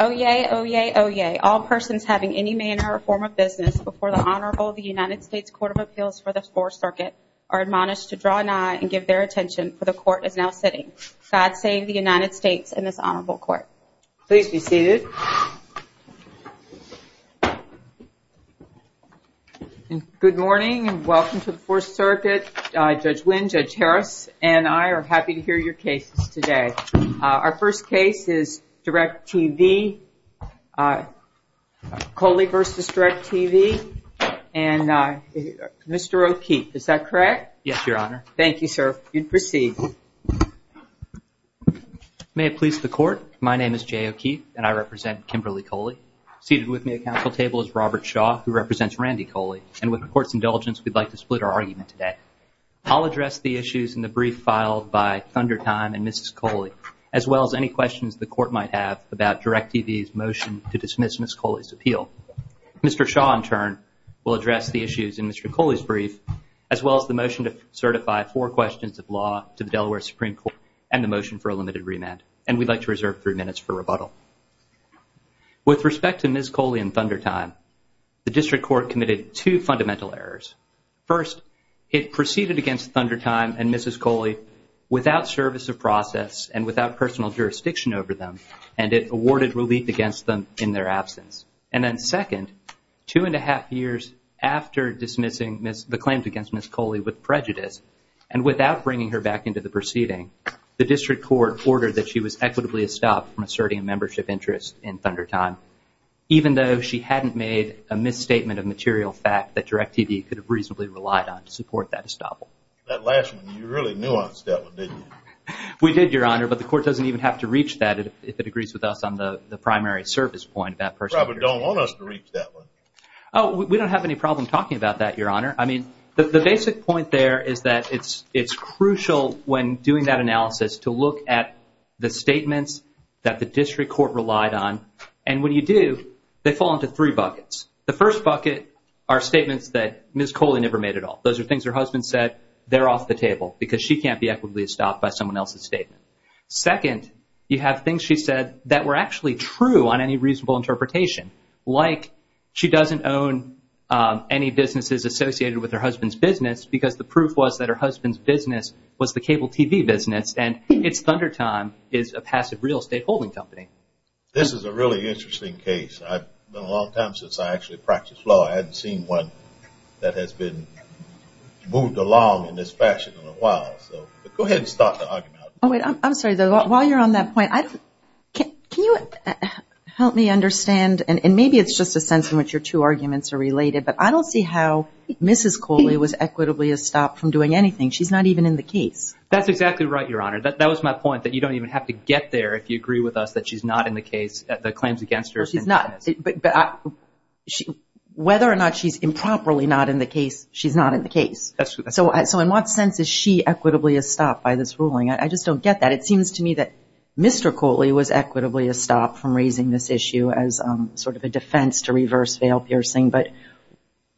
Oyez, oyez, oyez. All persons having any manner or form of business before the Honorable United States Court of Appeals for the Fourth Circuit are admonished to draw nigh and give their attention, for the Court is now sitting. God save the United States and this Honorable Court. Please be seated. Good morning and welcome to the Fourth Circuit. Judge Wynn, Judge Harris, and I are happy to hear your cases today. Our first case is DIRECTV, Coley v. DIRECTV, and Mr. O'Keefe. Is that correct? Yes, Your Honor. Thank you, sir. You may proceed. May it please the Court, my name is Jay O'Keefe, and I represent Kimberly Coley. Seated with me at Council table is Robert Shaw, who represents Randy Coley, and with the Court's indulgence, we'd like to split our argument today. I'll address the issues in the brief filed by Thundertime and Mrs. Coley, as well as any questions the Court might have about DIRECTV's motion to dismiss Ms. Coley's appeal. Mr. Shaw, in turn, will address the issues in Mr. Coley's brief, as well as the motion to certify four questions of law to the Delaware Supreme Court and the motion for a limited remand, and we'd like to reserve three minutes for rebuttal. With respect to Ms. Coley and Thundertime, the District Court committed two fundamental errors. First, it proceeded against Thundertime and Mrs. Coley without service of process and without personal jurisdiction over them, and it awarded relief against them in their absence. And then second, two and a half years after dismissing the claims against Ms. Coley with prejudice, and without bringing her back into the proceeding, the District Court ordered that she was equitably estopped from asserting a membership interest in Thundertime, even though she hadn't made a misstatement of material fact that DIRECTV could have reasonably relied on to support that estoppel. That last one, you really nuanced that one, didn't you? We did, Your Honor, but the Court doesn't even have to reach that if it agrees with us on the primary service point about personal jurisdiction. You probably don't want us to reach that one. Oh, we don't have any problem talking about that, Your Honor. I mean, the basic point there is that it's crucial when doing that analysis to look at the statements that the District Court relied on, and when you do, they fall into three buckets. The first bucket are statements that Ms. Coley never made at all. Those are things her husband said. They're off the table because she can't be equitably estopped by someone else's statement. Second, you have things she said that were actually true on any reasonable interpretation, like she doesn't own any businesses associated with her husband's business because the proof was that her husband's business was the cable TV business, and it's Thundertime is a passive real estate holding company. This is a really interesting case. It's been a long time since I actually practiced law. I haven't seen one that has been moved along in this fashion in a while, so go ahead and start the argument. I'm sorry, though. While you're on that point, can you help me understand, and maybe it's just a sense in which your two arguments are related, but I don't see how Mrs. Coley was equitably estopped from doing anything. She's not even in the case. That's exactly right, Your Honor. That was my point, that you don't even have to get there if you agree with us that she's not in the case, the claims against her. Whether or not she's improperly not in the case, she's not in the case. So in what sense is she equitably estopped by this ruling? I just don't get that. It seems to me that Mr. Coley was equitably estopped from raising this issue as sort of a defense to reverse veil piercing, but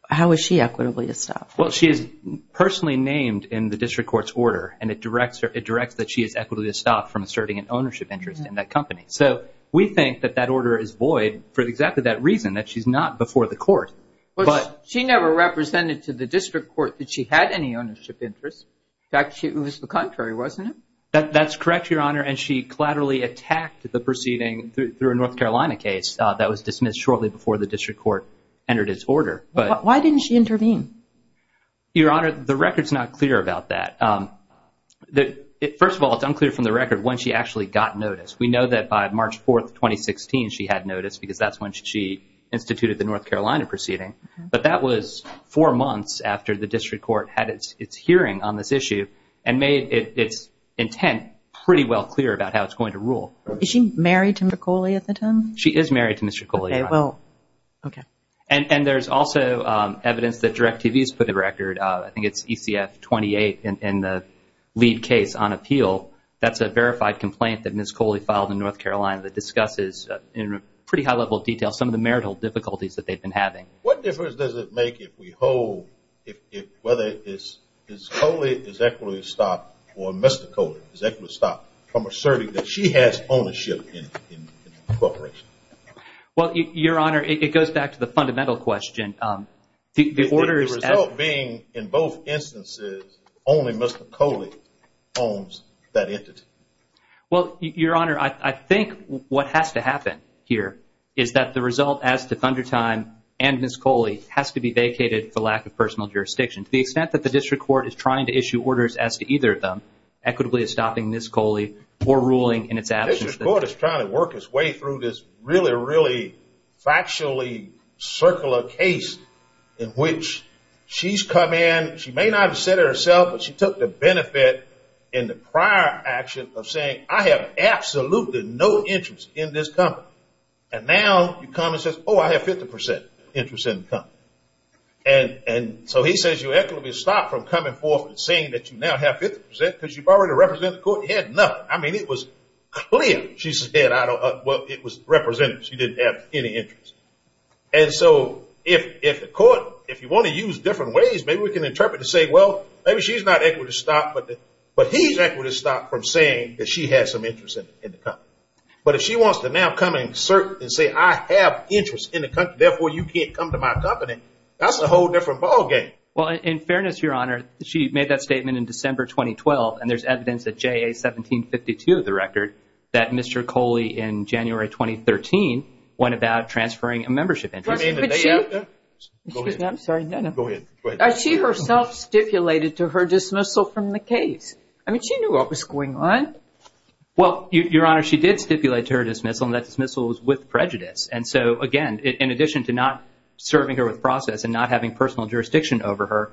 how is she equitably estopped? Well, she is personally named in the district court's order, and it directs that she is equitably estopped from asserting an ownership interest in that company. So we think that that order is void for exactly that reason, that she's not before the court. She never represented to the district court that she had any ownership interest. In fact, it was the contrary, wasn't it? That's correct, Your Honor, and she collaterally attacked the proceeding through a North Carolina case that was dismissed shortly before the district court entered its order. Why didn't she intervene? Your Honor, the record's not clear about that. First of all, it's unclear from the record when she actually got notice. We know that by March 4, 2016, she had notice because that's when she instituted the North Carolina proceeding, but that was four months after the district court had its hearing on this issue and made its intent pretty well clear about how it's going to rule. Is she married to Mr. Coley at the time? She is married to Mr. Coley, Your Honor. Okay. And there's also evidence that DirecTV's put a record, I think it's ECF 28, in the lead case on appeal. That's a verified complaint that Ms. Coley filed in North Carolina that discusses in pretty high-level detail some of the marital difficulties that they've been having. What difference does it make if we hold whether Ms. Coley is equitably stopped or Mr. Coley is equitably stopped from asserting that she has ownership in the corporation? Well, Your Honor, it goes back to the fundamental question. The result being in both instances only Mr. Coley owns that entity. Well, Your Honor, I think what has to happen here is that the result as to Thundertime and Ms. Coley has to be vacated for lack of personal jurisdiction. To the extent that the district court is trying to issue orders as to either of them, equitably stopping Ms. Coley or ruling in its absence. The district court is trying to work its way through this really, really factually circular case in which she's come in. She may not have said it herself, but she took the benefit in the prior action of saying, I have absolutely no interest in this company. And now you come and say, oh, I have 50% interest in the company. And so he says you're equitably stopped from coming forth and saying that you now have 50% because you've already represented the court. I mean, it was clear she said, well, it was representative. She didn't have any interest. And so if the court, if you want to use different ways, maybe we can interpret to say, well, maybe she's not equitably stopped, but he's equitably stopped from saying that she has some interest in the company. But if she wants to now come and assert and say, I have interest in the company, therefore you can't come to my company, that's a whole different ballgame. Well, in fairness, Your Honor, she made that statement in December 2012, and there's evidence at JA 1752 of the record that Mr. Coley in January 2013 went about transferring a membership interest. But she herself stipulated to her dismissal from the case. I mean, she knew what was going on. Well, Your Honor, she did stipulate to her dismissal, and that dismissal was with prejudice. And so, again, in addition to not serving her with process and not having personal jurisdiction over her,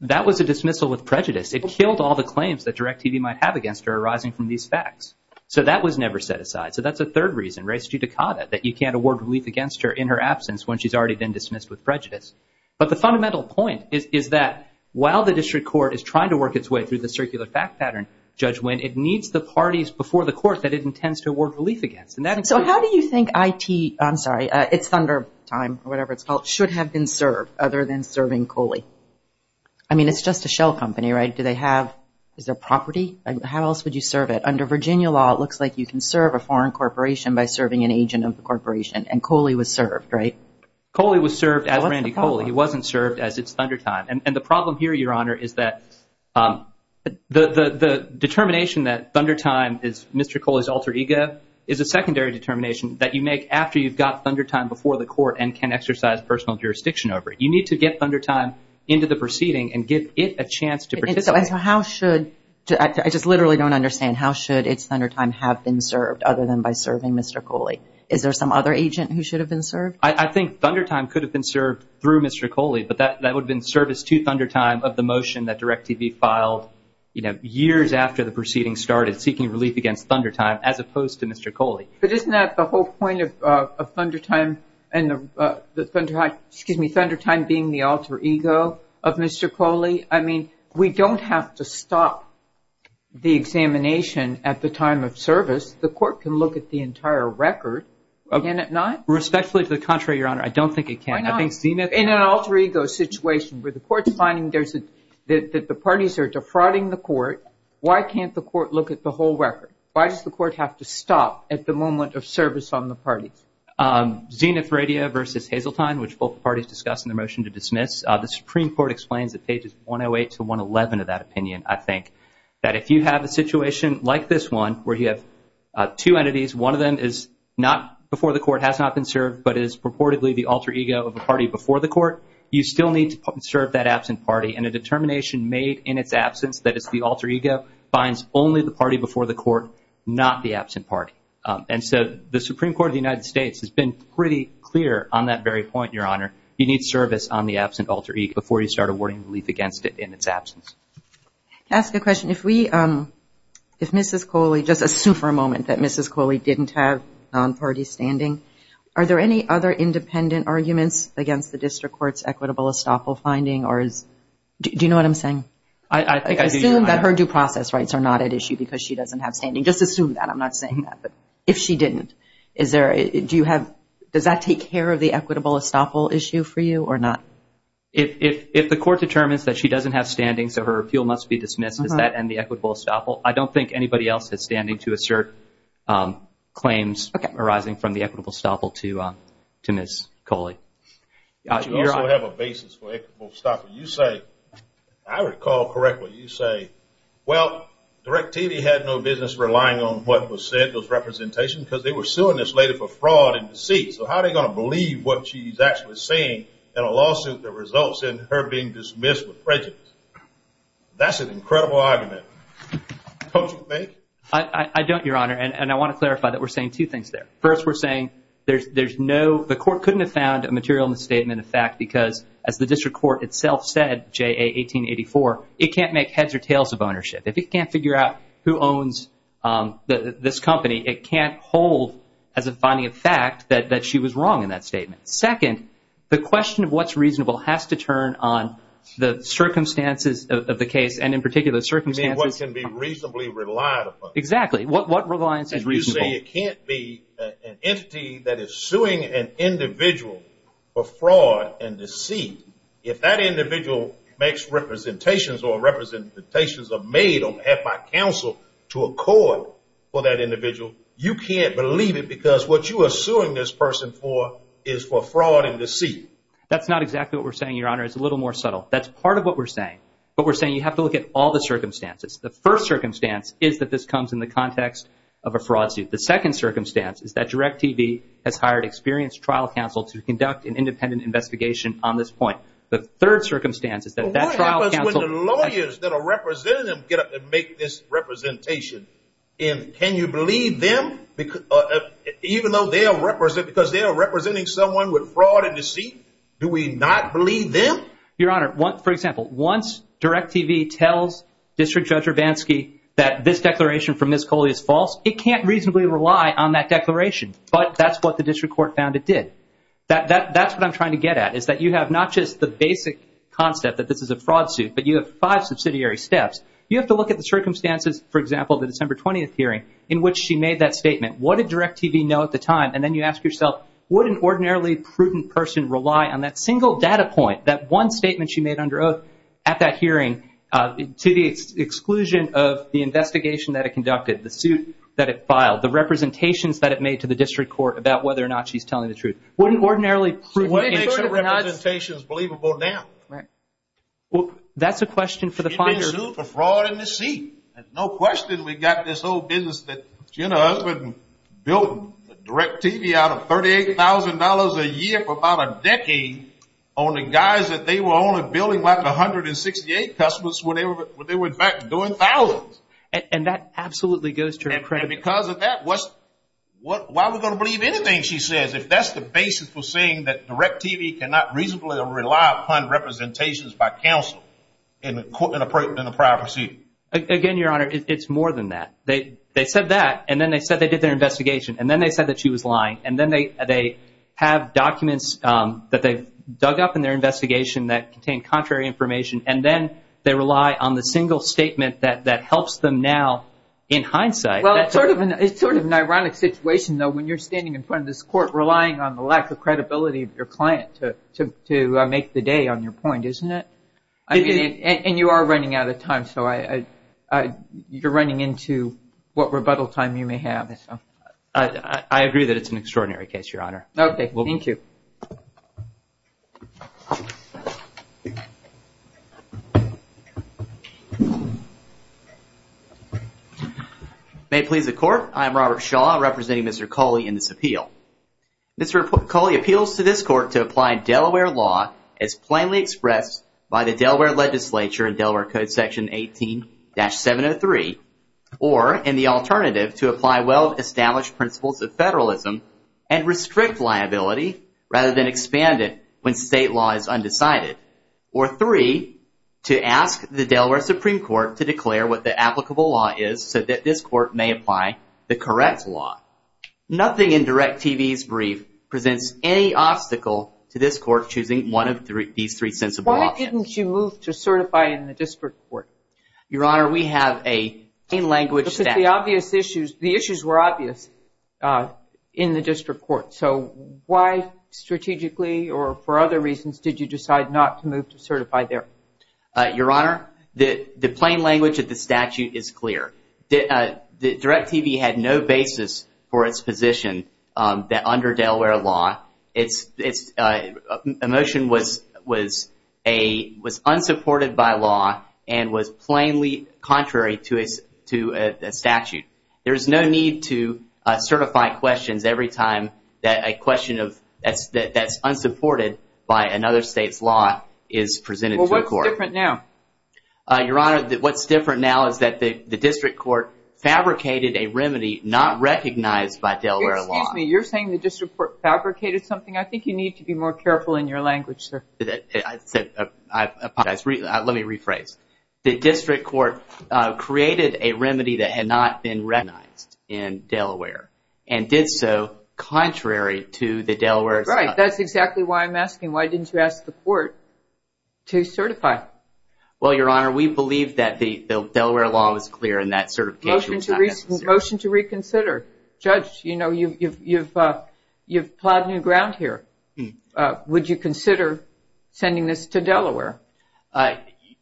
that was a dismissal with prejudice. It killed all the claims that DIRECTV might have against her arising from these facts. So that was never set aside. So that's a third reason, res judicata, that you can't award relief against her in her absence when she's already been dismissed with prejudice. But the fundamental point is that while the district court is trying to work its way through the circular fact pattern, Judge Winn, it needs the parties before the court that it intends to award relief against. So how do you think IT, I'm sorry, it's Thunder Time or whatever it's called, should have been served other than serving Coley? I mean, it's just a shell company, right? Do they have, is there property? How else would you serve it? Under Virginia law, it looks like you can serve a foreign corporation by serving an agent of the corporation, and Coley was served, right? Coley was served as Randy Coley. It wasn't served as it's Thunder Time. And the problem here, Your Honor, is that the determination that Thunder Time is Mr. Coley's alter ego is a secondary determination that you make after you've got Thunder Time before the court and can exercise personal jurisdiction over it. You need to get Thunder Time into the proceeding and give it a chance to participate. So how should, I just literally don't understand, how should it's Thunder Time have been served other than by serving Mr. Coley? Is there some other agent who should have been served? I think Thunder Time could have been served through Mr. Coley, but that would have been service to Thunder Time of the motion that DIRECTV filed, you know, years after the proceeding started seeking relief against Thunder Time as opposed to Mr. Coley. But isn't that the whole point of Thunder Time being the alter ego of Mr. Coley? I mean, we don't have to stop the examination at the time of service. The court can look at the entire record, can it not? Respectfully to the contrary, Your Honor, I don't think it can. Why not? In an alter ego situation where the court's finding that the parties are defrauding the court, why can't the court look at the whole record? Why does the court have to stop at the moment of service on the parties? Zenith Radio versus Hazeltine, which both parties discussed in the motion to dismiss, the Supreme Court explains at pages 108 to 111 of that opinion, I think, that if you have a situation like this one where you have two entities, one of them is not before the court, has not been served, but is purportedly the alter ego of a party before the court, you still need to serve that absent party. And a determination made in its absence that it's the alter ego finds only the party before the court, not the absent party. And so the Supreme Court of the United States has been pretty clear on that very point, Your Honor. You need service on the absent alter ego before you start awarding relief against it in its absence. Can I ask a question? If we, if Mrs. Coley, just assume for a moment that Mrs. Coley didn't have non-party standing, are there any other independent arguments against the district court's equitable estoppel finding or is, do you know what I'm saying? I think I do. Assume that her due process rights are not at issue because she doesn't have standing. Just assume that. I'm not saying that. But if she didn't, is there, do you have, does that take care of the equitable estoppel issue for you or not? If the court determines that she doesn't have standing so her appeal must be dismissed, does that end the equitable estoppel? I don't think anybody else has standing to assert claims arising from the equitable estoppel to Ms. Coley. You also have a basis for equitable estoppel. You say, I recall correctly, you say, well, DirecTV had no business relying on what was said, those representations, because they were suing this lady for fraud and deceit. So how are they going to believe what she's actually saying in a lawsuit that results in her being dismissed with prejudice? That's an incredible argument. Don't you think? I don't, Your Honor, and I want to clarify that we're saying two things there. First, we're saying there's no, the court couldn't have found a material in the statement of fact because, as the district court itself said, J.A. 1884, it can't make heads or tails of ownership. If it can't figure out who owns this company, it can't hold as a finding of fact that she was wrong in that statement. Second, the question of what's reasonable has to turn on the circumstances of the case, and in particular circumstances. What can be reasonably relied upon. Exactly. What reliance is reasonable? You say it can't be an entity that is suing an individual for fraud and deceit. If that individual makes representations or representations are made or have by counsel to a court for that individual, you can't believe it because what you are suing this person for is for fraud and deceit. That's not exactly what we're saying, Your Honor. It's a little more subtle. That's part of what we're saying. But we're saying you have to look at all the circumstances. The first circumstance is that this comes in the context of a fraud suit. The second circumstance is that DirecTV has hired experienced trial counsel to conduct an independent investigation on this point. The third circumstance is that that trial counsel. What happens when the lawyers that are representing them get up and make this representation? And can you believe them? Even though they are representing someone with fraud and deceit, do we not believe them? Your Honor, for example, once DirecTV tells District Judge Urbanski that this declaration from Ms. Coley is false, it can't reasonably rely on that declaration, but that's what the district court found it did. That's what I'm trying to get at is that you have not just the basic concept that this is a fraud suit, but you have five subsidiary steps. You have to look at the circumstances, for example, the December 20th hearing in which she made that statement. What did DirecTV know at the time? And then you ask yourself, would an ordinarily prudent person rely on that single data point, that one statement she made under oath at that hearing, to the exclusion of the investigation that it conducted, the suit that it filed, the representations that it made to the district court about whether or not she's telling the truth? Would an ordinarily prudent person? What makes her representations believable now? Well, that's a question for the finder. She made a suit for fraud and deceit. There's no question we've got this whole business that Jenna Husband built DirecTV out of $38,000 a year for about a decade on the guise that they were only building like 168 customers when they were in fact doing thousands. And that absolutely goes to her credit. And because of that, why are we going to believe anything she says if that's the basis for saying that DirecTV cannot reasonably rely upon representations by counsel in a prior proceeding? Again, Your Honor, it's more than that. They said that, and then they said they did their investigation, and then they said that she was lying, and then they have documents that they've dug up in their investigation that contain contrary information, and then they rely on the single statement that helps them now in hindsight. Well, it's sort of an ironic situation, though, when you're standing in front of this court relying on the lack of credibility of your client to make the day on your point, isn't it? And you are running out of time, so you're running into what rebuttal time you may have. I agree that it's an extraordinary case, Your Honor. Okay, thank you. May it please the Court, I am Robert Shaw, representing Mr. Cawley in this appeal. Mr. Cawley appeals to this court to apply Delaware law as plainly expressed by the Delaware legislature in Delaware Code Section 18-703, or in the alternative, to apply well-established principles of federalism and restrict liability rather than expand it when state law is undecided, or three, to ask the Delaware Supreme Court to declare what the applicable law is so that this court may apply the correct law. Nothing in DIRECTV's brief presents any obstacle to this court choosing one of these three sensible options. Why didn't you move to certify in the district court? Your Honor, we have a plain language statute. But the obvious issues, the issues were obvious in the district court, so why strategically or for other reasons did you decide not to move to certify there? Your Honor, the plain language of the statute is clear. DIRECTV had no basis for its position that under Delaware law, a motion was unsupported by law and was plainly contrary to a statute. There is no need to certify questions every time that a question that's unsupported by another state's law is presented to a court. Well, what's different now? Your Honor, what's different now is that the district court fabricated a remedy not recognized by Delaware law. Excuse me, you're saying the district court fabricated something? I think you need to be more careful in your language, sir. I apologize. Let me rephrase. The district court created a remedy that had not been recognized in Delaware and did so contrary to the Delaware statute. Right. That's exactly why I'm asking, why didn't you ask the court to certify? Well, Your Honor, we believe that the Delaware law was clear and that certification was not necessary. Motion to reconsider. Judge, you know, you've plowed new ground here. Would you consider sending this to Delaware?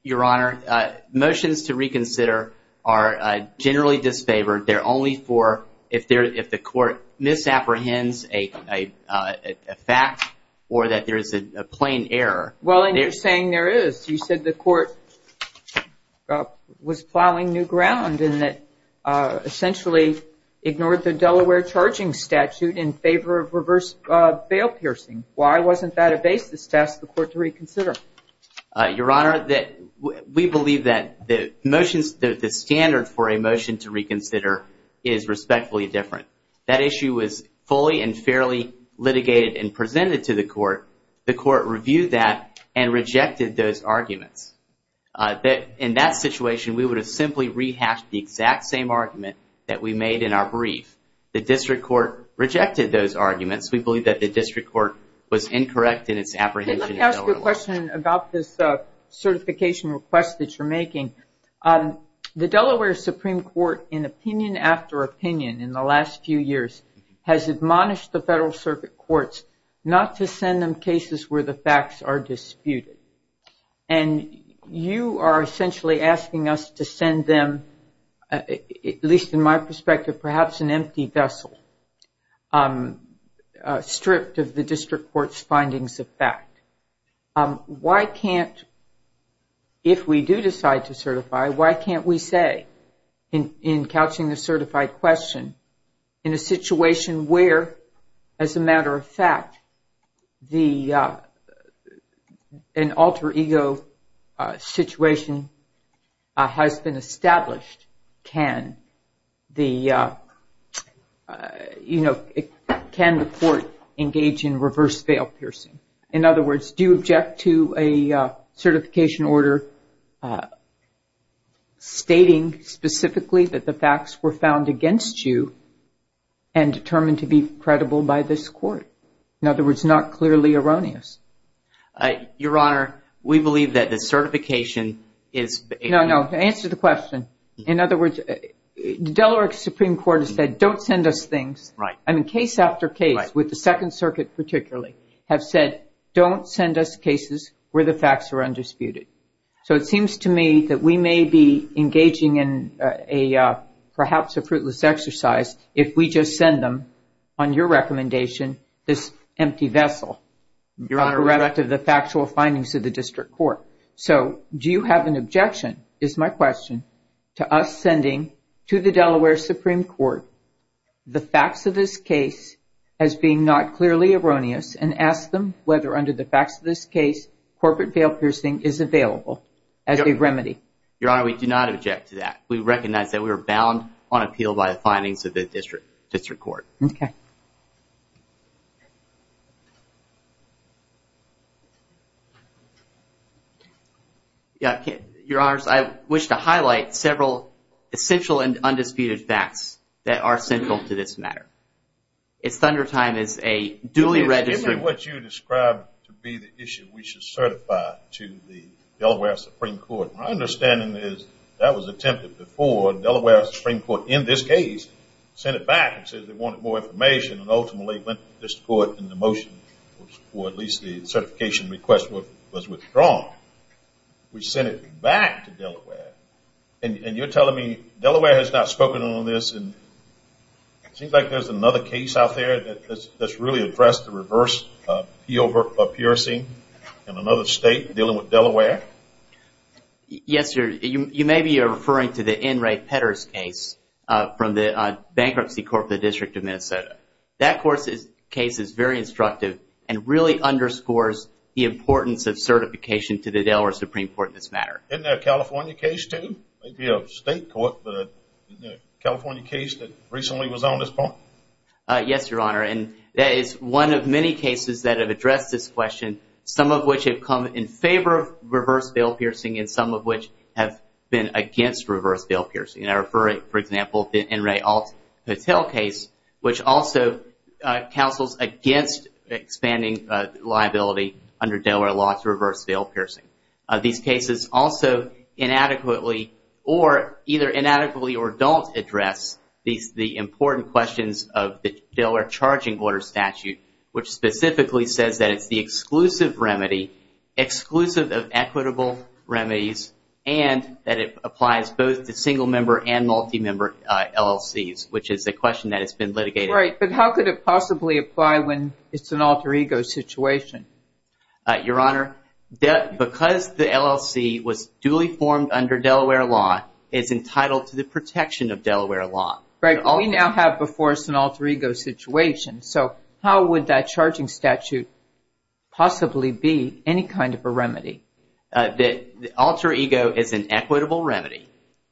Your Honor, motions to reconsider are generally disfavored. They're only for if the court misapprehends a fact or that there is a plain error. Well, and you're saying there is. You said the court was plowing new ground and that essentially ignored the Delaware charging statute in favor of reverse bail piercing. Why wasn't that a basis to ask the court to reconsider? Your Honor, we believe that the standard for a motion to reconsider is respectfully different. That issue was fully and fairly litigated and presented to the court. The court reviewed that and rejected those arguments. In that situation, we would have simply rehashed the exact same argument that we made in our brief. The district court rejected those arguments. We believe that the district court was incorrect in its apprehension of Delaware law. Let me ask you a question about this certification request that you're making. The Delaware Supreme Court, in opinion after opinion in the last few years, has admonished the Federal Circuit Courts not to send them cases where the facts are disputed. And you are essentially asking us to send them, at least in my perspective, perhaps an empty vessel stripped of the district court's findings of fact. If we do decide to certify, why can't we say in couching the certified question, in a situation where, as a matter of fact, an alter ego situation has been established, can the court engage in reverse veil piercing? In other words, do you object to a certification order stating specifically that the facts were found against you and determined to be credible by this court? In other words, not clearly erroneous. Your Honor, we believe that the certification is- No, no, answer the question. In other words, the Delaware Supreme Court has said don't send us things. I mean, case after case, with the Second Circuit particularly, have said don't send us cases where the facts are undisputed. So it seems to me that we may be engaging in perhaps a fruitless exercise if we just send them, on your recommendation, this empty vessel. Your Honor- Is my question to us sending to the Delaware Supreme Court the facts of this case as being not clearly erroneous and ask them whether under the facts of this case corporate veil piercing is available as a remedy. Your Honor, we do not object to that. We recognize that we are bound on appeal by the findings of the district court. Okay. Your Honor, I wish to highlight several essential and undisputed facts that are central to this matter. It's Thunder Time is a duly registered- Give me what you described to be the issue we should certify to the Delaware Supreme Court. My understanding is that was attempted before. Delaware Supreme Court, in this case, sent it back and said they wanted more information and ultimately went to the district court and the motion, or at least the certification request, was withdrawn. We sent it back to Delaware. And you're telling me Delaware has not spoken on this and it seems like there's another case out there that's really addressed the reverse appeal of piercing in another state dealing with Delaware? Yes, sir. You may be referring to the N. Ray Petters case from the Bankruptcy Court of the District of Minnesota. That case is very instructive and really underscores the importance of certification to the Delaware Supreme Court in this matter. Isn't there a California case too? Maybe a state court, but isn't there a California case that recently was on this point? Yes, Your Honor, and that is one of many cases that have addressed this question, some of which have come in favor of reverse veil piercing and some of which have been against reverse veil piercing. I refer, for example, the N. Ray Alt-Patel case, which also counsels against expanding liability under Delaware law to reverse veil piercing. These cases also inadequately or either inadequately or don't address the important questions of the Delaware charging order statute, which specifically says that it's the exclusive remedy, and that it applies both to single-member and multi-member LLCs, which is a question that has been litigated. Right, but how could it possibly apply when it's an alter ego situation? Your Honor, because the LLC was duly formed under Delaware law, it's entitled to the protection of Delaware law. Right, but we now have before us an alter ego situation, so how would that charging statute possibly be any kind of a remedy? The alter ego is an equitable remedy.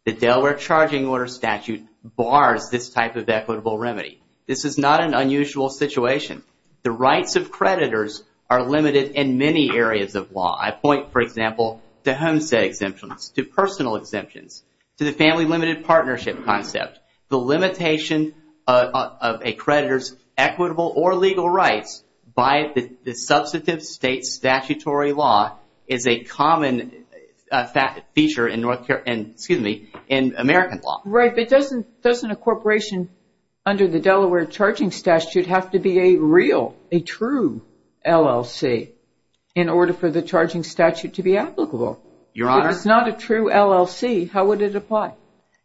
The Delaware charging order statute bars this type of equitable remedy. This is not an unusual situation. The rights of creditors are limited in many areas of law. I point, for example, to homestead exemptions, to personal exemptions, to the family limited partnership concept. The limitation of a creditor's equitable or legal rights by the substantive state statutory law is a common feature in American law. Right, but doesn't a corporation under the Delaware charging statute have to be a real, a true LLC in order for the charging statute to be applicable? If it's not a true LLC, how would it apply?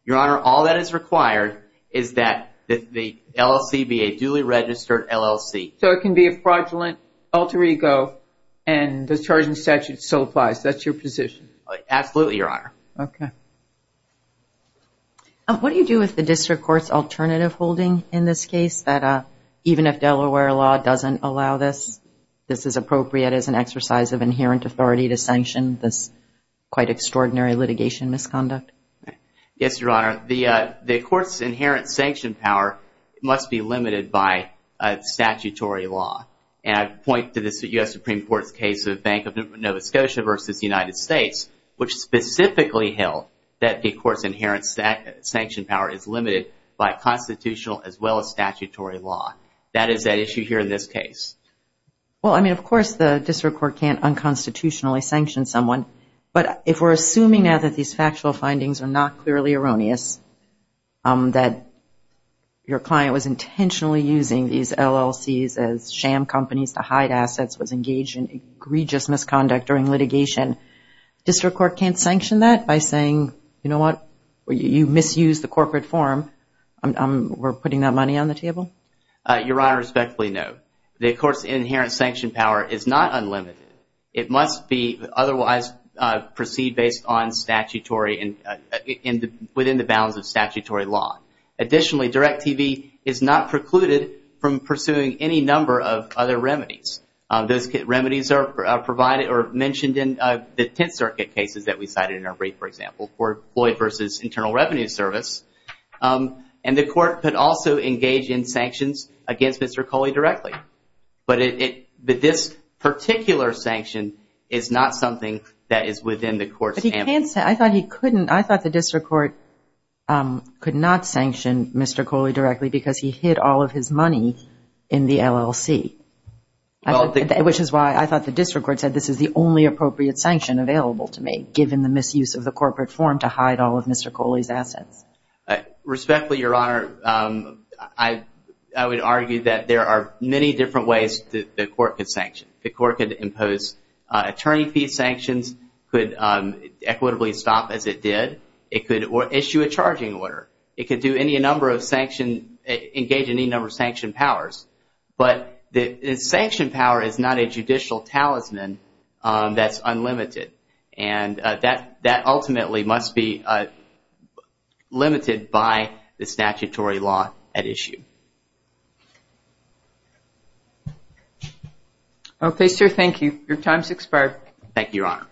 Your Honor, all that is required is that the LLC be a duly registered LLC. So it can be a fraudulent alter ego and the charging statute still applies. That's your position? Absolutely, Your Honor. Okay. What do you do with the district court's alternative holding in this case, that even if Delaware law doesn't allow this, this is appropriate as an exercise of inherent authority to sanction this quite extraordinary litigation misconduct? Yes, Your Honor. The court's inherent sanction power must be limited by statutory law. And I point to the U.S. Supreme Court's case of Bank of Nova Scotia versus the United States, which specifically held that the court's inherent sanction power is limited by constitutional as well as statutory law. That is at issue here in this case. Well, I mean, of course, the district court can't unconstitutionally sanction someone. But if we're assuming now that these factual findings are not clearly erroneous, that your client was intentionally using these LLCs as sham companies to hide assets, was engaged in egregious misconduct during litigation, district court can't sanction that by saying, you know what, you misused the corporate form. We're putting that money on the table? Your Honor, respectfully, no. The court's inherent sanction power is not unlimited. It must be otherwise proceed based on statutory and within the bounds of statutory law. Additionally, Direct TV is not precluded from pursuing any number of other remedies. Those remedies are provided or mentioned in the Tenth Circuit cases that we cited in our brief, for example, for employee versus internal revenue service. And the court could also engage in sanctions against Mr. Coley directly. But this particular sanction is not something that is within the court's. I thought he couldn't. I thought the district court could not sanction Mr. Coley directly because he hid all of his money in the LLC, which is why I thought the district court said this is the only appropriate sanction available to me, given the misuse of the corporate form to hide all of Mr. Coley's assets. Respectfully, Your Honor, I would argue that there are many different ways that the court could sanction. The court could impose attorney fee sanctions, could equitably stop as it did, it could issue a charging order, it could engage any number of sanction powers. But the sanction power is not a judicial talisman that's unlimited. And that ultimately must be limited by the statutory law at issue. Okay, sir, thank you. Your time has expired. Thank you, Your Honor.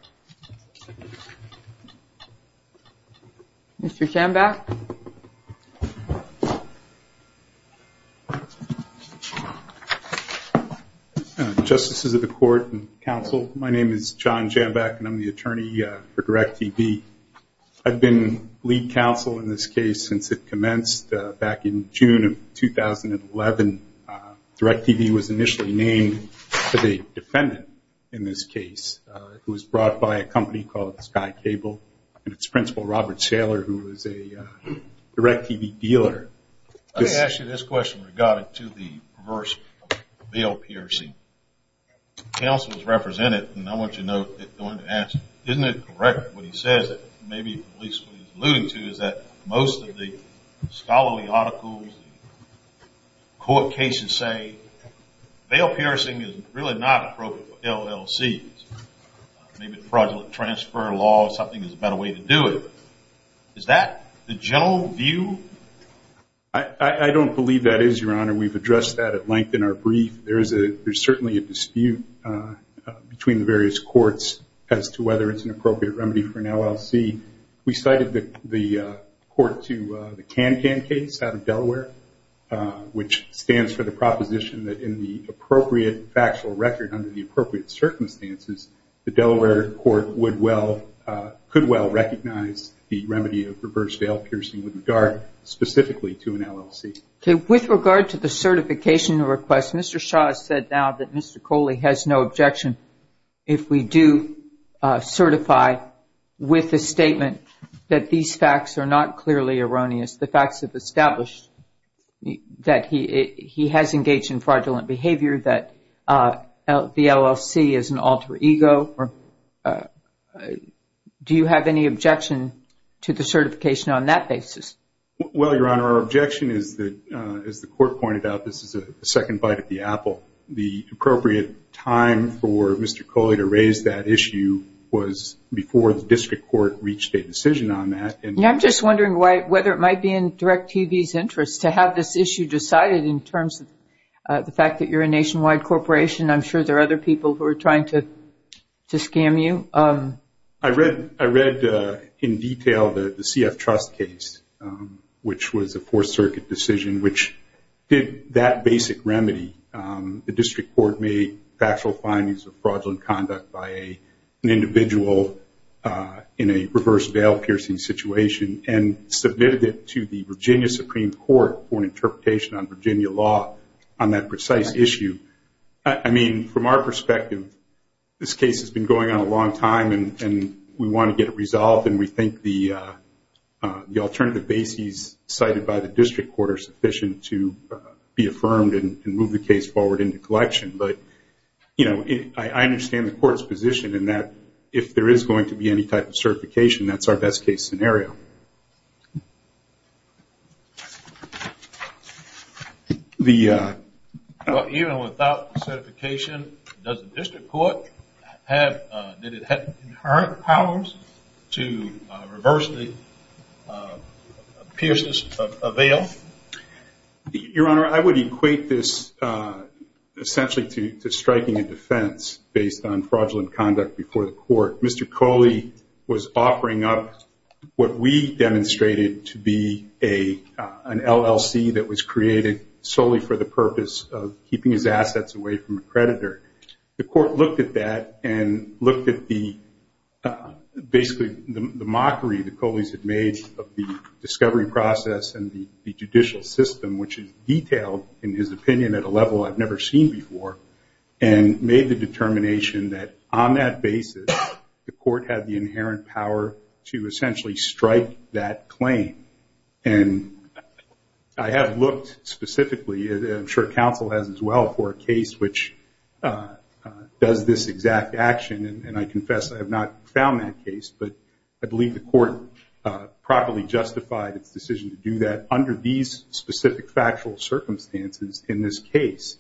Mr. Jambach. Justices of the court and counsel, my name is John Jambach and I'm the attorney for DirecTV. I've been lead counsel in this case since it commenced back in June of 2011. DirecTV was initially named the defendant in this case. It was brought by a company called Sky Cable, and its principal, Robert Saylor, who was a DirecTV dealer. Let me ask you this question regarding to the reverse bail PRC. Counsel has represented, and I want you to know, isn't it correct what he says that maybe at least what he's alluding to is that most of the scholarly articles, court cases say, bail PRC is really not appropriate for LLCs. Maybe fraudulent transfer laws, something is a better way to do it. Is that the general view? I don't believe that is, Your Honor. We've addressed that at length in our brief. There is certainly a dispute between the various courts as to whether it's an appropriate remedy for an LLC. We cited the court to the CanCan case out of Delaware, which stands for the proposition that in the appropriate factual record under the appropriate circumstances, the Delaware court could well recognize the remedy of reverse bail PRC with regard specifically to an LLC. With regard to the certification request, Mr. Shaw has said now that Mr. Coley has no objection if we do certify with a statement that these facts are not clearly erroneous. The facts have established that he has engaged in fraudulent behavior, that the LLC is an alter ego. Do you have any objection to the certification on that basis? Well, Your Honor, our objection is that, as the court pointed out, this is a second bite at the apple. The appropriate time for Mr. Coley to raise that issue was before the district court reached a decision on that. I'm just wondering whether it might be in DIRECTV's interest to have this issue decided in terms of the fact that you're a nationwide corporation. I'm sure there are other people who are trying to scam you. I read in detail the CF Trust case, which was a Fourth Circuit decision, which did that basic remedy. The district court made factual findings of fraudulent conduct by an individual in a reverse bail piercing situation and submitted it to the Virginia Supreme Court for an interpretation on Virginia law on that precise issue. From our perspective, this case has been going on a long time and we want to get it resolved. We think the alternative bases cited by the district court are sufficient to be affirmed and move the case forward into collection. I understand the court's position in that if there is going to be any type of certification, that's our best case scenario. Even without certification, does the district court have inherent powers to reverse the piercings of bail? Your Honor, I would equate this essentially to striking a defense based on fraudulent conduct before the court. He demonstrated to be an LLC that was created solely for the purpose of keeping his assets away from a creditor. The court looked at that and looked at basically the mockery the Coleys had made of the discovery process and the judicial system, which is detailed in his opinion at a level I've never seen before, and made the determination that on that basis, the court had the inherent power to essentially strike that claim. I have looked specifically, and I'm sure counsel has as well, for a case which does this exact action. I confess I have not found that case, but I believe the court properly justified its decision to do that under these specific factual circumstances in this case.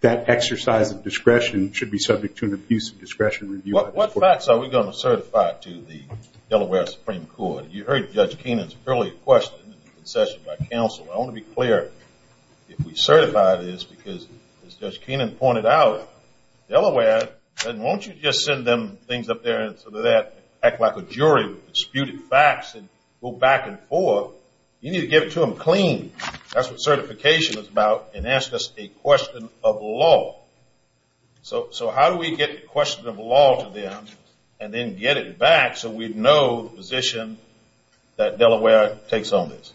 That exercise of discretion should be subject to an abuse of discretion. What facts are we going to certify to the Delaware Supreme Court? You heard Judge Keenan's earlier question in the concession by counsel. I want to be clear if we certify this because, as Judge Keenan pointed out, Delaware doesn't want you to just send them things up there and sort of act like a jury with disputed facts and go back and forth. You need to give it to them clean. That's what certification is about, and ask us a question of law. So how do we get the question of law to them and then get it back so we know the position that Delaware takes on this?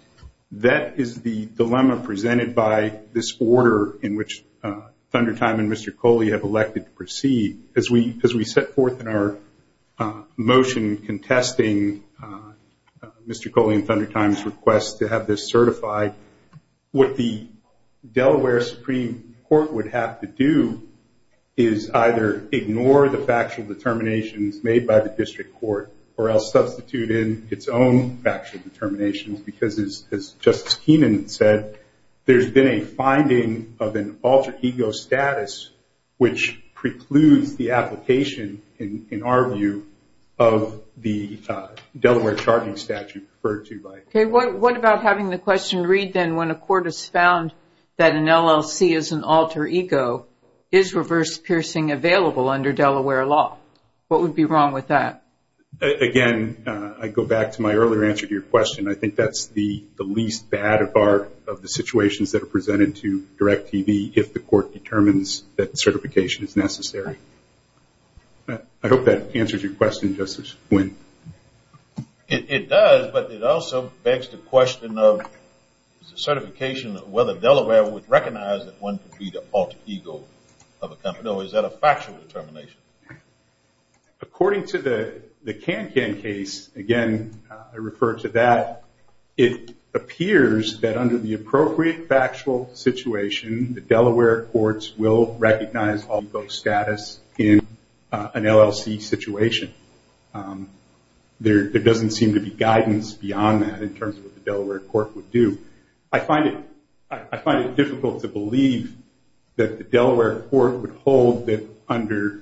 That is the dilemma presented by this order in which Thundertime and Mr. Coley have elected to proceed. As we set forth in our motion contesting Mr. Coley and Thundertime's request to have this certified, what the Delaware Supreme Court would have to do is either ignore the factual determinations made by the district court or else substitute in its own factual determinations because, as Justice Keenan said, there's been a finding of an alter ego status which precludes the application, in our view, of the Delaware charging statute referred to by the court. Okay. What about having the question read then when a court has found that an LLC is an alter ego, is reverse piercing available under Delaware law? What would be wrong with that? Again, I go back to my earlier answer to your question. I think that's the least bad of the situations that are presented to DIRECTV if the court determines that certification is necessary. I hope that answers your question, Justice Nguyen. It does, but it also begs the question of certification whether Delaware would recognize that one could be the alter ego of a company. Or is that a factual determination? According to the Kankan case, again, I refer to that. It appears that under the appropriate factual situation, the Delaware courts will recognize alter ego status in an LLC situation. There doesn't seem to be guidance beyond that in terms of what the Delaware court would do. I find it difficult to believe that the Delaware court would hold that under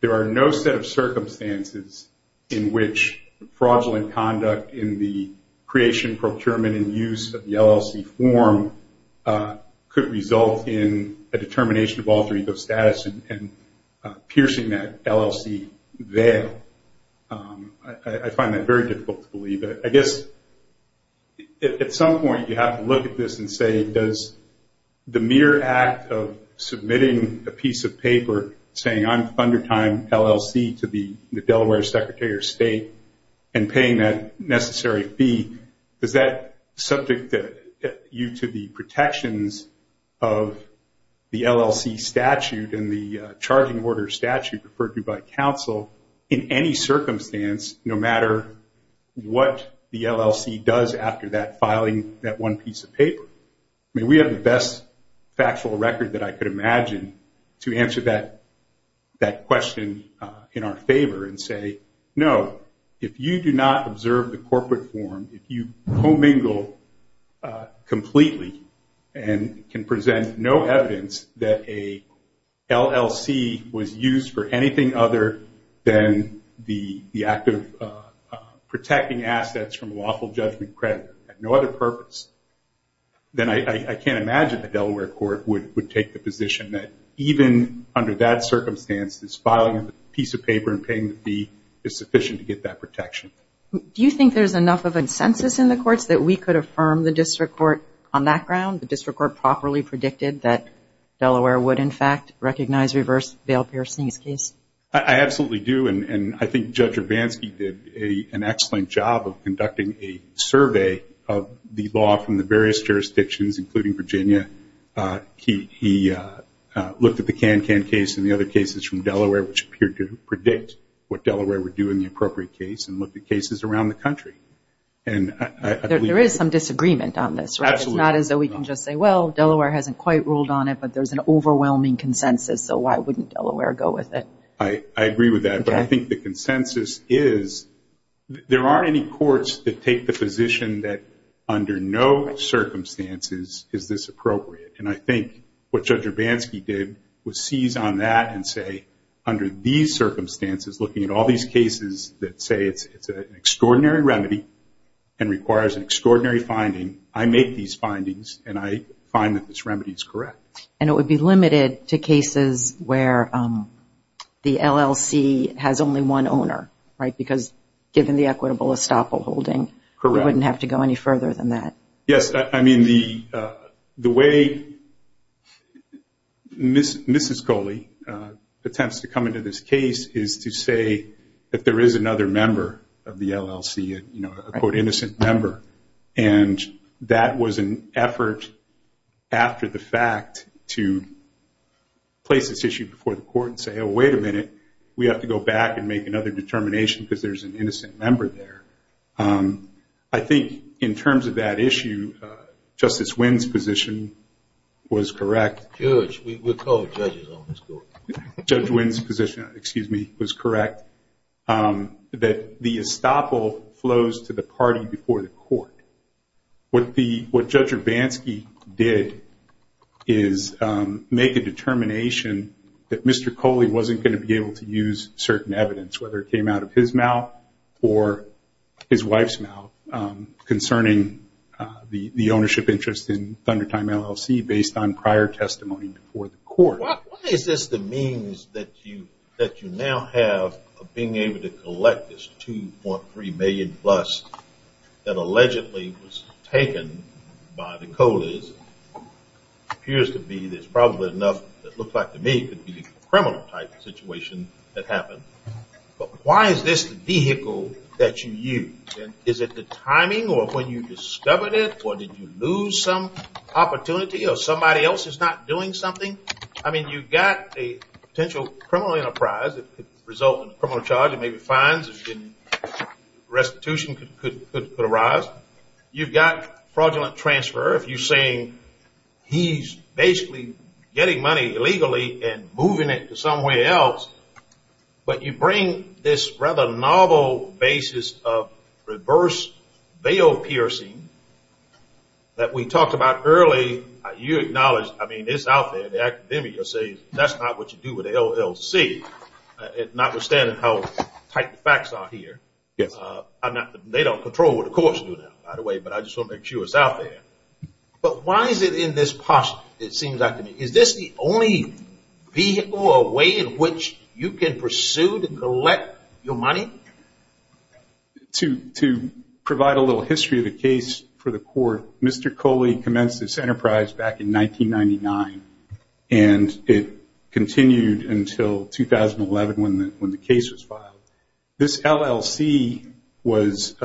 there are no set of circumstances in which fraudulent conduct in the could result in a determination of alter ego status and piercing that LLC there. I find that very difficult to believe. I guess at some point you have to look at this and say, does the mere act of submitting a piece of paper saying, I'm under time LLC to the Delaware Secretary of State and paying that necessary fee, does that subject you to the protections of the LLC statute and the charging order statute referred to by counsel in any circumstance, no matter what the LLC does after that filing that one piece of paper? I mean, we have the best factual record that I could imagine to answer that question in our favor and say, no, if you do not observe the corporate form, if you commingle completely and can present no evidence that a LLC was used for anything other than the act of protecting assets from lawful judgment credit and no other purpose, then I can't imagine the Delaware court would take the position that even under that circumstance, this filing of the piece of paper and paying the fee is sufficient to get that protection. Do you think there's enough of a census in the courts that we could affirm the district court on that ground, the district court properly predicted that Delaware would, in fact, recognize reverse bail piercing in this case? I absolutely do, and I think Judge Urbanski did an excellent job of conducting a survey of the law from the various jurisdictions, including Virginia. He looked at the Kankan case and the other cases from Delaware, which appeared to predict what Delaware would do in the appropriate case and looked at cases around the country. There is some disagreement on this, right? Absolutely. It's not as though we can just say, well, Delaware hasn't quite ruled on it, but there's an overwhelming consensus, so why wouldn't Delaware go with it? I agree with that, but I think the consensus is there aren't any courts that take the position that under no circumstances is this appropriate, and I think what Judge Urbanski did was seize on that and say, under these circumstances, looking at all these cases that say it's an extraordinary remedy and requires an extraordinary finding, I make these findings, and I find that this remedy is correct. And it would be limited to cases where the LLC has only one owner, right, because given the equitable estoppel holding, we wouldn't have to go any further than that. Yes, I mean, the way Mrs. Coley attempts to come into this case is to say that there is another member of the LLC, a quote, innocent member, and that was an effort after the fact to place this issue before the court and say, oh, wait a minute, we have to go back and make another determination because there's an innocent member there. I think in terms of that issue, Justice Wynn's position was correct. Judge, we call the judges on this court. Judge Wynn's position, excuse me, was correct, that the estoppel flows to the party before the court. What Judge Urbanski did is make a determination that Mr. Coley wasn't going to be able to use certain evidence, whether it came out of his mouth or his wife's mouth, concerning the ownership interest in Thundertime LLC based on prior testimony before the court. Why is this the means that you now have of being able to collect this $2.3 million plus that allegedly was taken by the Coleys? It appears to be there's probably enough that looks like to me could be the criminal type situation that happened. But why is this the vehicle that you use? And is it the timing or when you discovered it or did you lose some opportunity or somebody else is not doing something? I mean, you've got a potential criminal enterprise that could result in a criminal charge and maybe fines and restitution could arise. You've got fraudulent transfer if you're saying he's basically getting money illegally and moving it to somewhere else. But you bring this rather novel basis of reverse bail piercing that we talked about earlier. You acknowledge, I mean, it's out there. The academic will say that's not what you do with the LLC, notwithstanding how tight the facts are here. They don't control what the courts do now, by the way, but I just want to make sure it's out there. But why is it in this posse, it seems like to me? Is this the only vehicle or way in which you can pursue to collect your money? To provide a little history of the case for the court, Mr. Coley commenced this enterprise back in 1999, and it continued until 2011 when the case was filed. This LLC was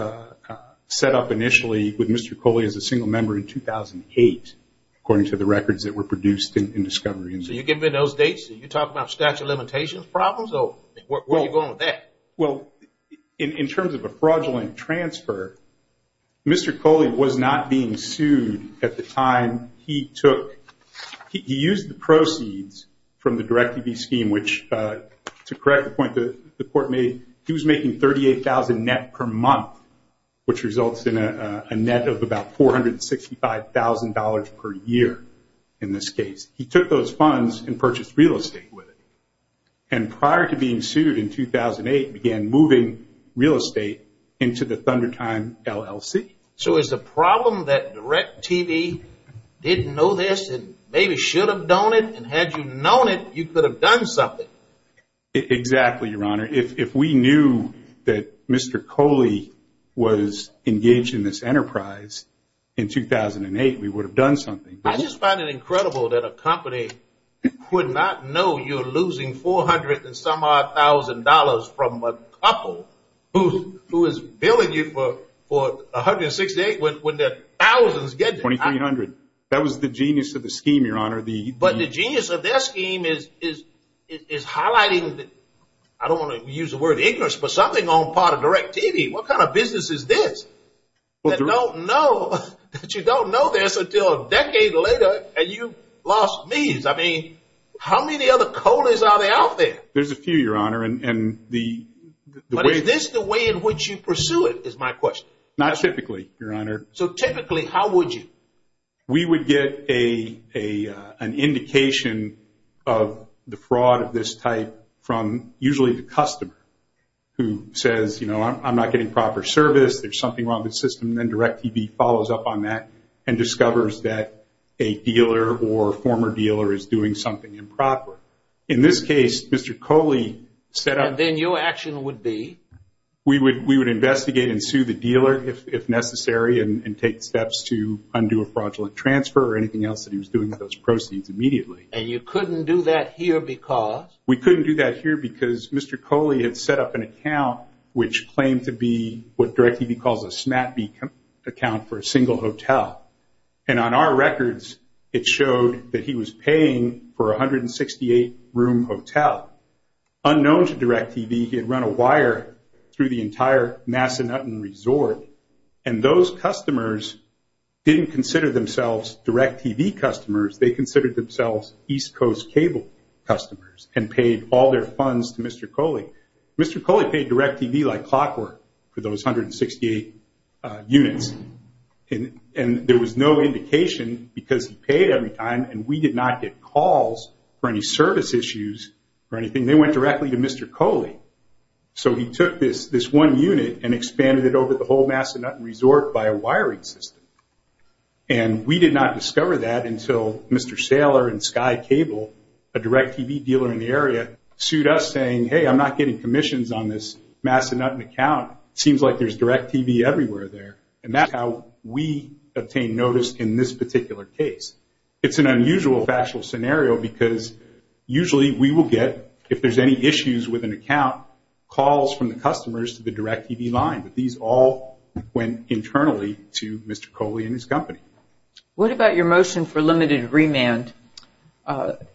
set up initially with Mr. Coley as a single member in 2008, according to the records that were produced in discovery. So you give me those dates and you talk about statute of limitations problems? Or where are you going with that? Well, in terms of a fraudulent transfer, Mr. Coley was not being sued at the time he took. He used the proceeds from the Direct-to-Be scheme, which, to correct the point the court made, he was making $38,000 net per month, which results in a net of about $465,000 per year in this case. He took those funds and purchased real estate with it. And prior to being sued in 2008, began moving real estate into the Thundertime LLC. So is the problem that Direct TV didn't know this and maybe should have known it, and had you known it, you could have done something? Exactly, Your Honor. If we knew that Mr. Coley was engaged in this enterprise in 2008, we would have done something. I just find it incredible that a company would not know you're losing $400,000-and-some-odd-thousand from a couple who is billing you for $168,000 when their thousands get to $2,300. That was the genius of the scheme, Your Honor. But the genius of their scheme is highlighting, I don't want to use the word ignorance, but something on the part of Direct TV. What kind of business is this? That you don't know this until a decade later and you've lost means. I mean, how many other Coleys are there out there? There's a few, Your Honor. But is this the way in which you pursue it, is my question. Not typically, Your Honor. So typically, how would you? We would get an indication of the fraud of this type from usually the customer who says, you know, I'm not getting proper service, there's something wrong with the system, and then Direct TV follows up on that and discovers that a dealer or former dealer is doing something improper. In this case, Mr. Coley set up. And then your action would be? We would investigate and sue the dealer if necessary and take steps to undo a fraudulent transfer or anything else that he was doing with those proceeds immediately. And you couldn't do that here because? We couldn't do that here because Mr. Coley had set up an account which claimed to be what Direct TV calls a snap account for a single hotel. And on our records, it showed that he was paying for a 168-room hotel. Unknown to Direct TV, he had run a wire through the entire Massanutten Resort, and those customers didn't consider themselves Direct TV customers. They considered themselves East Coast Cable customers and paid all their funds to Mr. Coley. Mr. Coley paid Direct TV like clockwork for those 168 units, and there was no indication because he paid every time, and we did not get calls for any service issues or anything. They went directly to Mr. Coley. So he took this one unit and expanded it over the whole Massanutten Resort by a wiring system. And we did not discover that until Mr. Saylor and Sky Cable, a Direct TV dealer in the area, sued us saying, hey, I'm not getting commissions on this Massanutten account. It seems like there's Direct TV everywhere there. And that's how we obtained notice in this particular case. It's an unusual factual scenario because usually we will get, if there's any issues with an account, calls from the customers to the Direct TV line. But these all went internally to Mr. Coley and his company. What about your motion for limited remand? It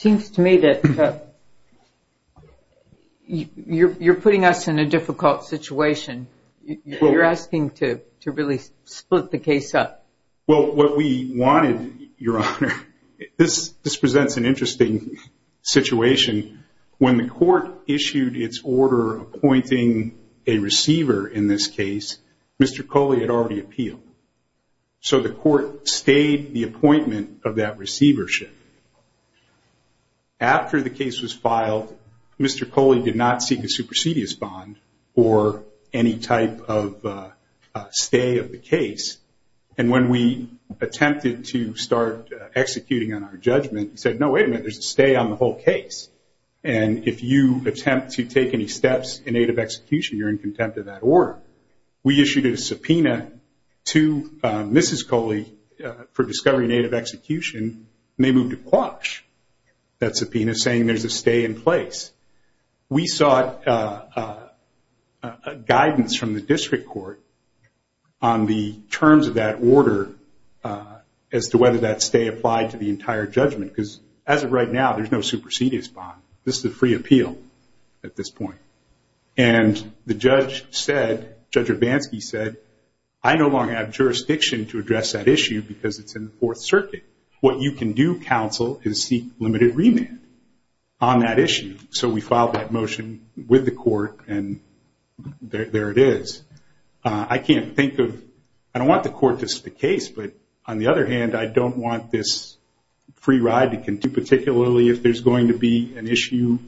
seems to me that you're putting us in a difficult situation. You're asking to really split the case up. Well, what we wanted, Your Honor, this presents an interesting situation. When the court issued its order appointing a receiver in this case, Mr. Coley had already appealed. So the court stayed the appointment of that receivership. After the case was filed, Mr. Coley did not seek a supersedious bond or any type of stay of the case. And when we attempted to start executing on our judgment, he said, no, wait a minute, there's a stay on the whole case. And if you attempt to take any steps in aid of execution, you're in contempt of that order. We issued a subpoena to Mrs. Coley for discovery in aid of execution, and they moved to quash that subpoena, saying there's a stay in place. We sought guidance from the district court on the terms of that order as to whether that stay applied to the entire judgment because as of right now, there's no supersedious bond. This is a free appeal at this point. And the judge said, Judge Urbanski said, I no longer have jurisdiction to address that issue because it's in the Fourth Circuit. What you can do, counsel, is seek limited remand on that issue. So we filed that motion with the court, and there it is. I can't think of – I don't want the court to stick case, but on the other hand, I don't want this free ride to continue, particularly if there's going to be an issue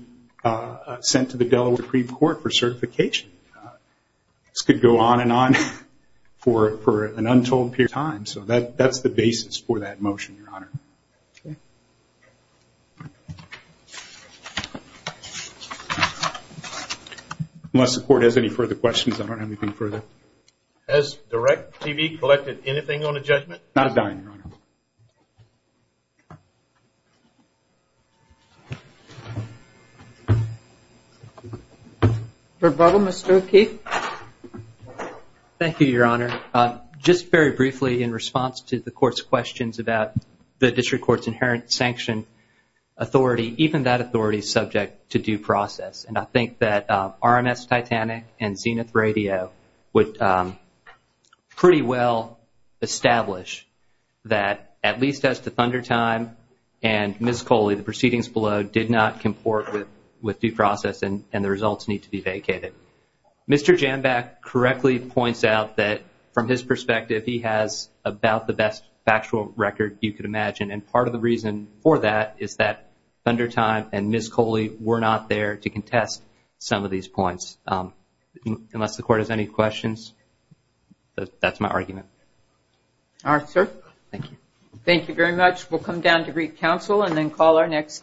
sent to the Delaware Supreme Court for certification. This could go on and on for an untold period of time. So that's the basis for that motion, Your Honor. Unless the court has any further questions, I don't have anything further. Has Direct TV collected anything on the judgment? Not a dime, Your Honor. Rebuttal, Mr. O'Keefe. Thank you, Your Honor. Just very briefly in response to the court's questions about the district court's inherent sanction authority, even that authority is subject to due process. And I think that RMS Titanic and Zenith Radio would pretty well establish that, at least as to Thundertime and Ms. Coley, the proceedings below did not comport with due process and the results need to be vacated. Mr. Jambach correctly points out that, from his perspective, he has about the best factual record you could imagine. And part of the reason for that is that Thundertime and Ms. Coley were not there to contest some of these points. Unless the court has any questions, that's my argument. All right, sir. Thank you. Thank you very much. We'll come down to Greek Council and then call our next case.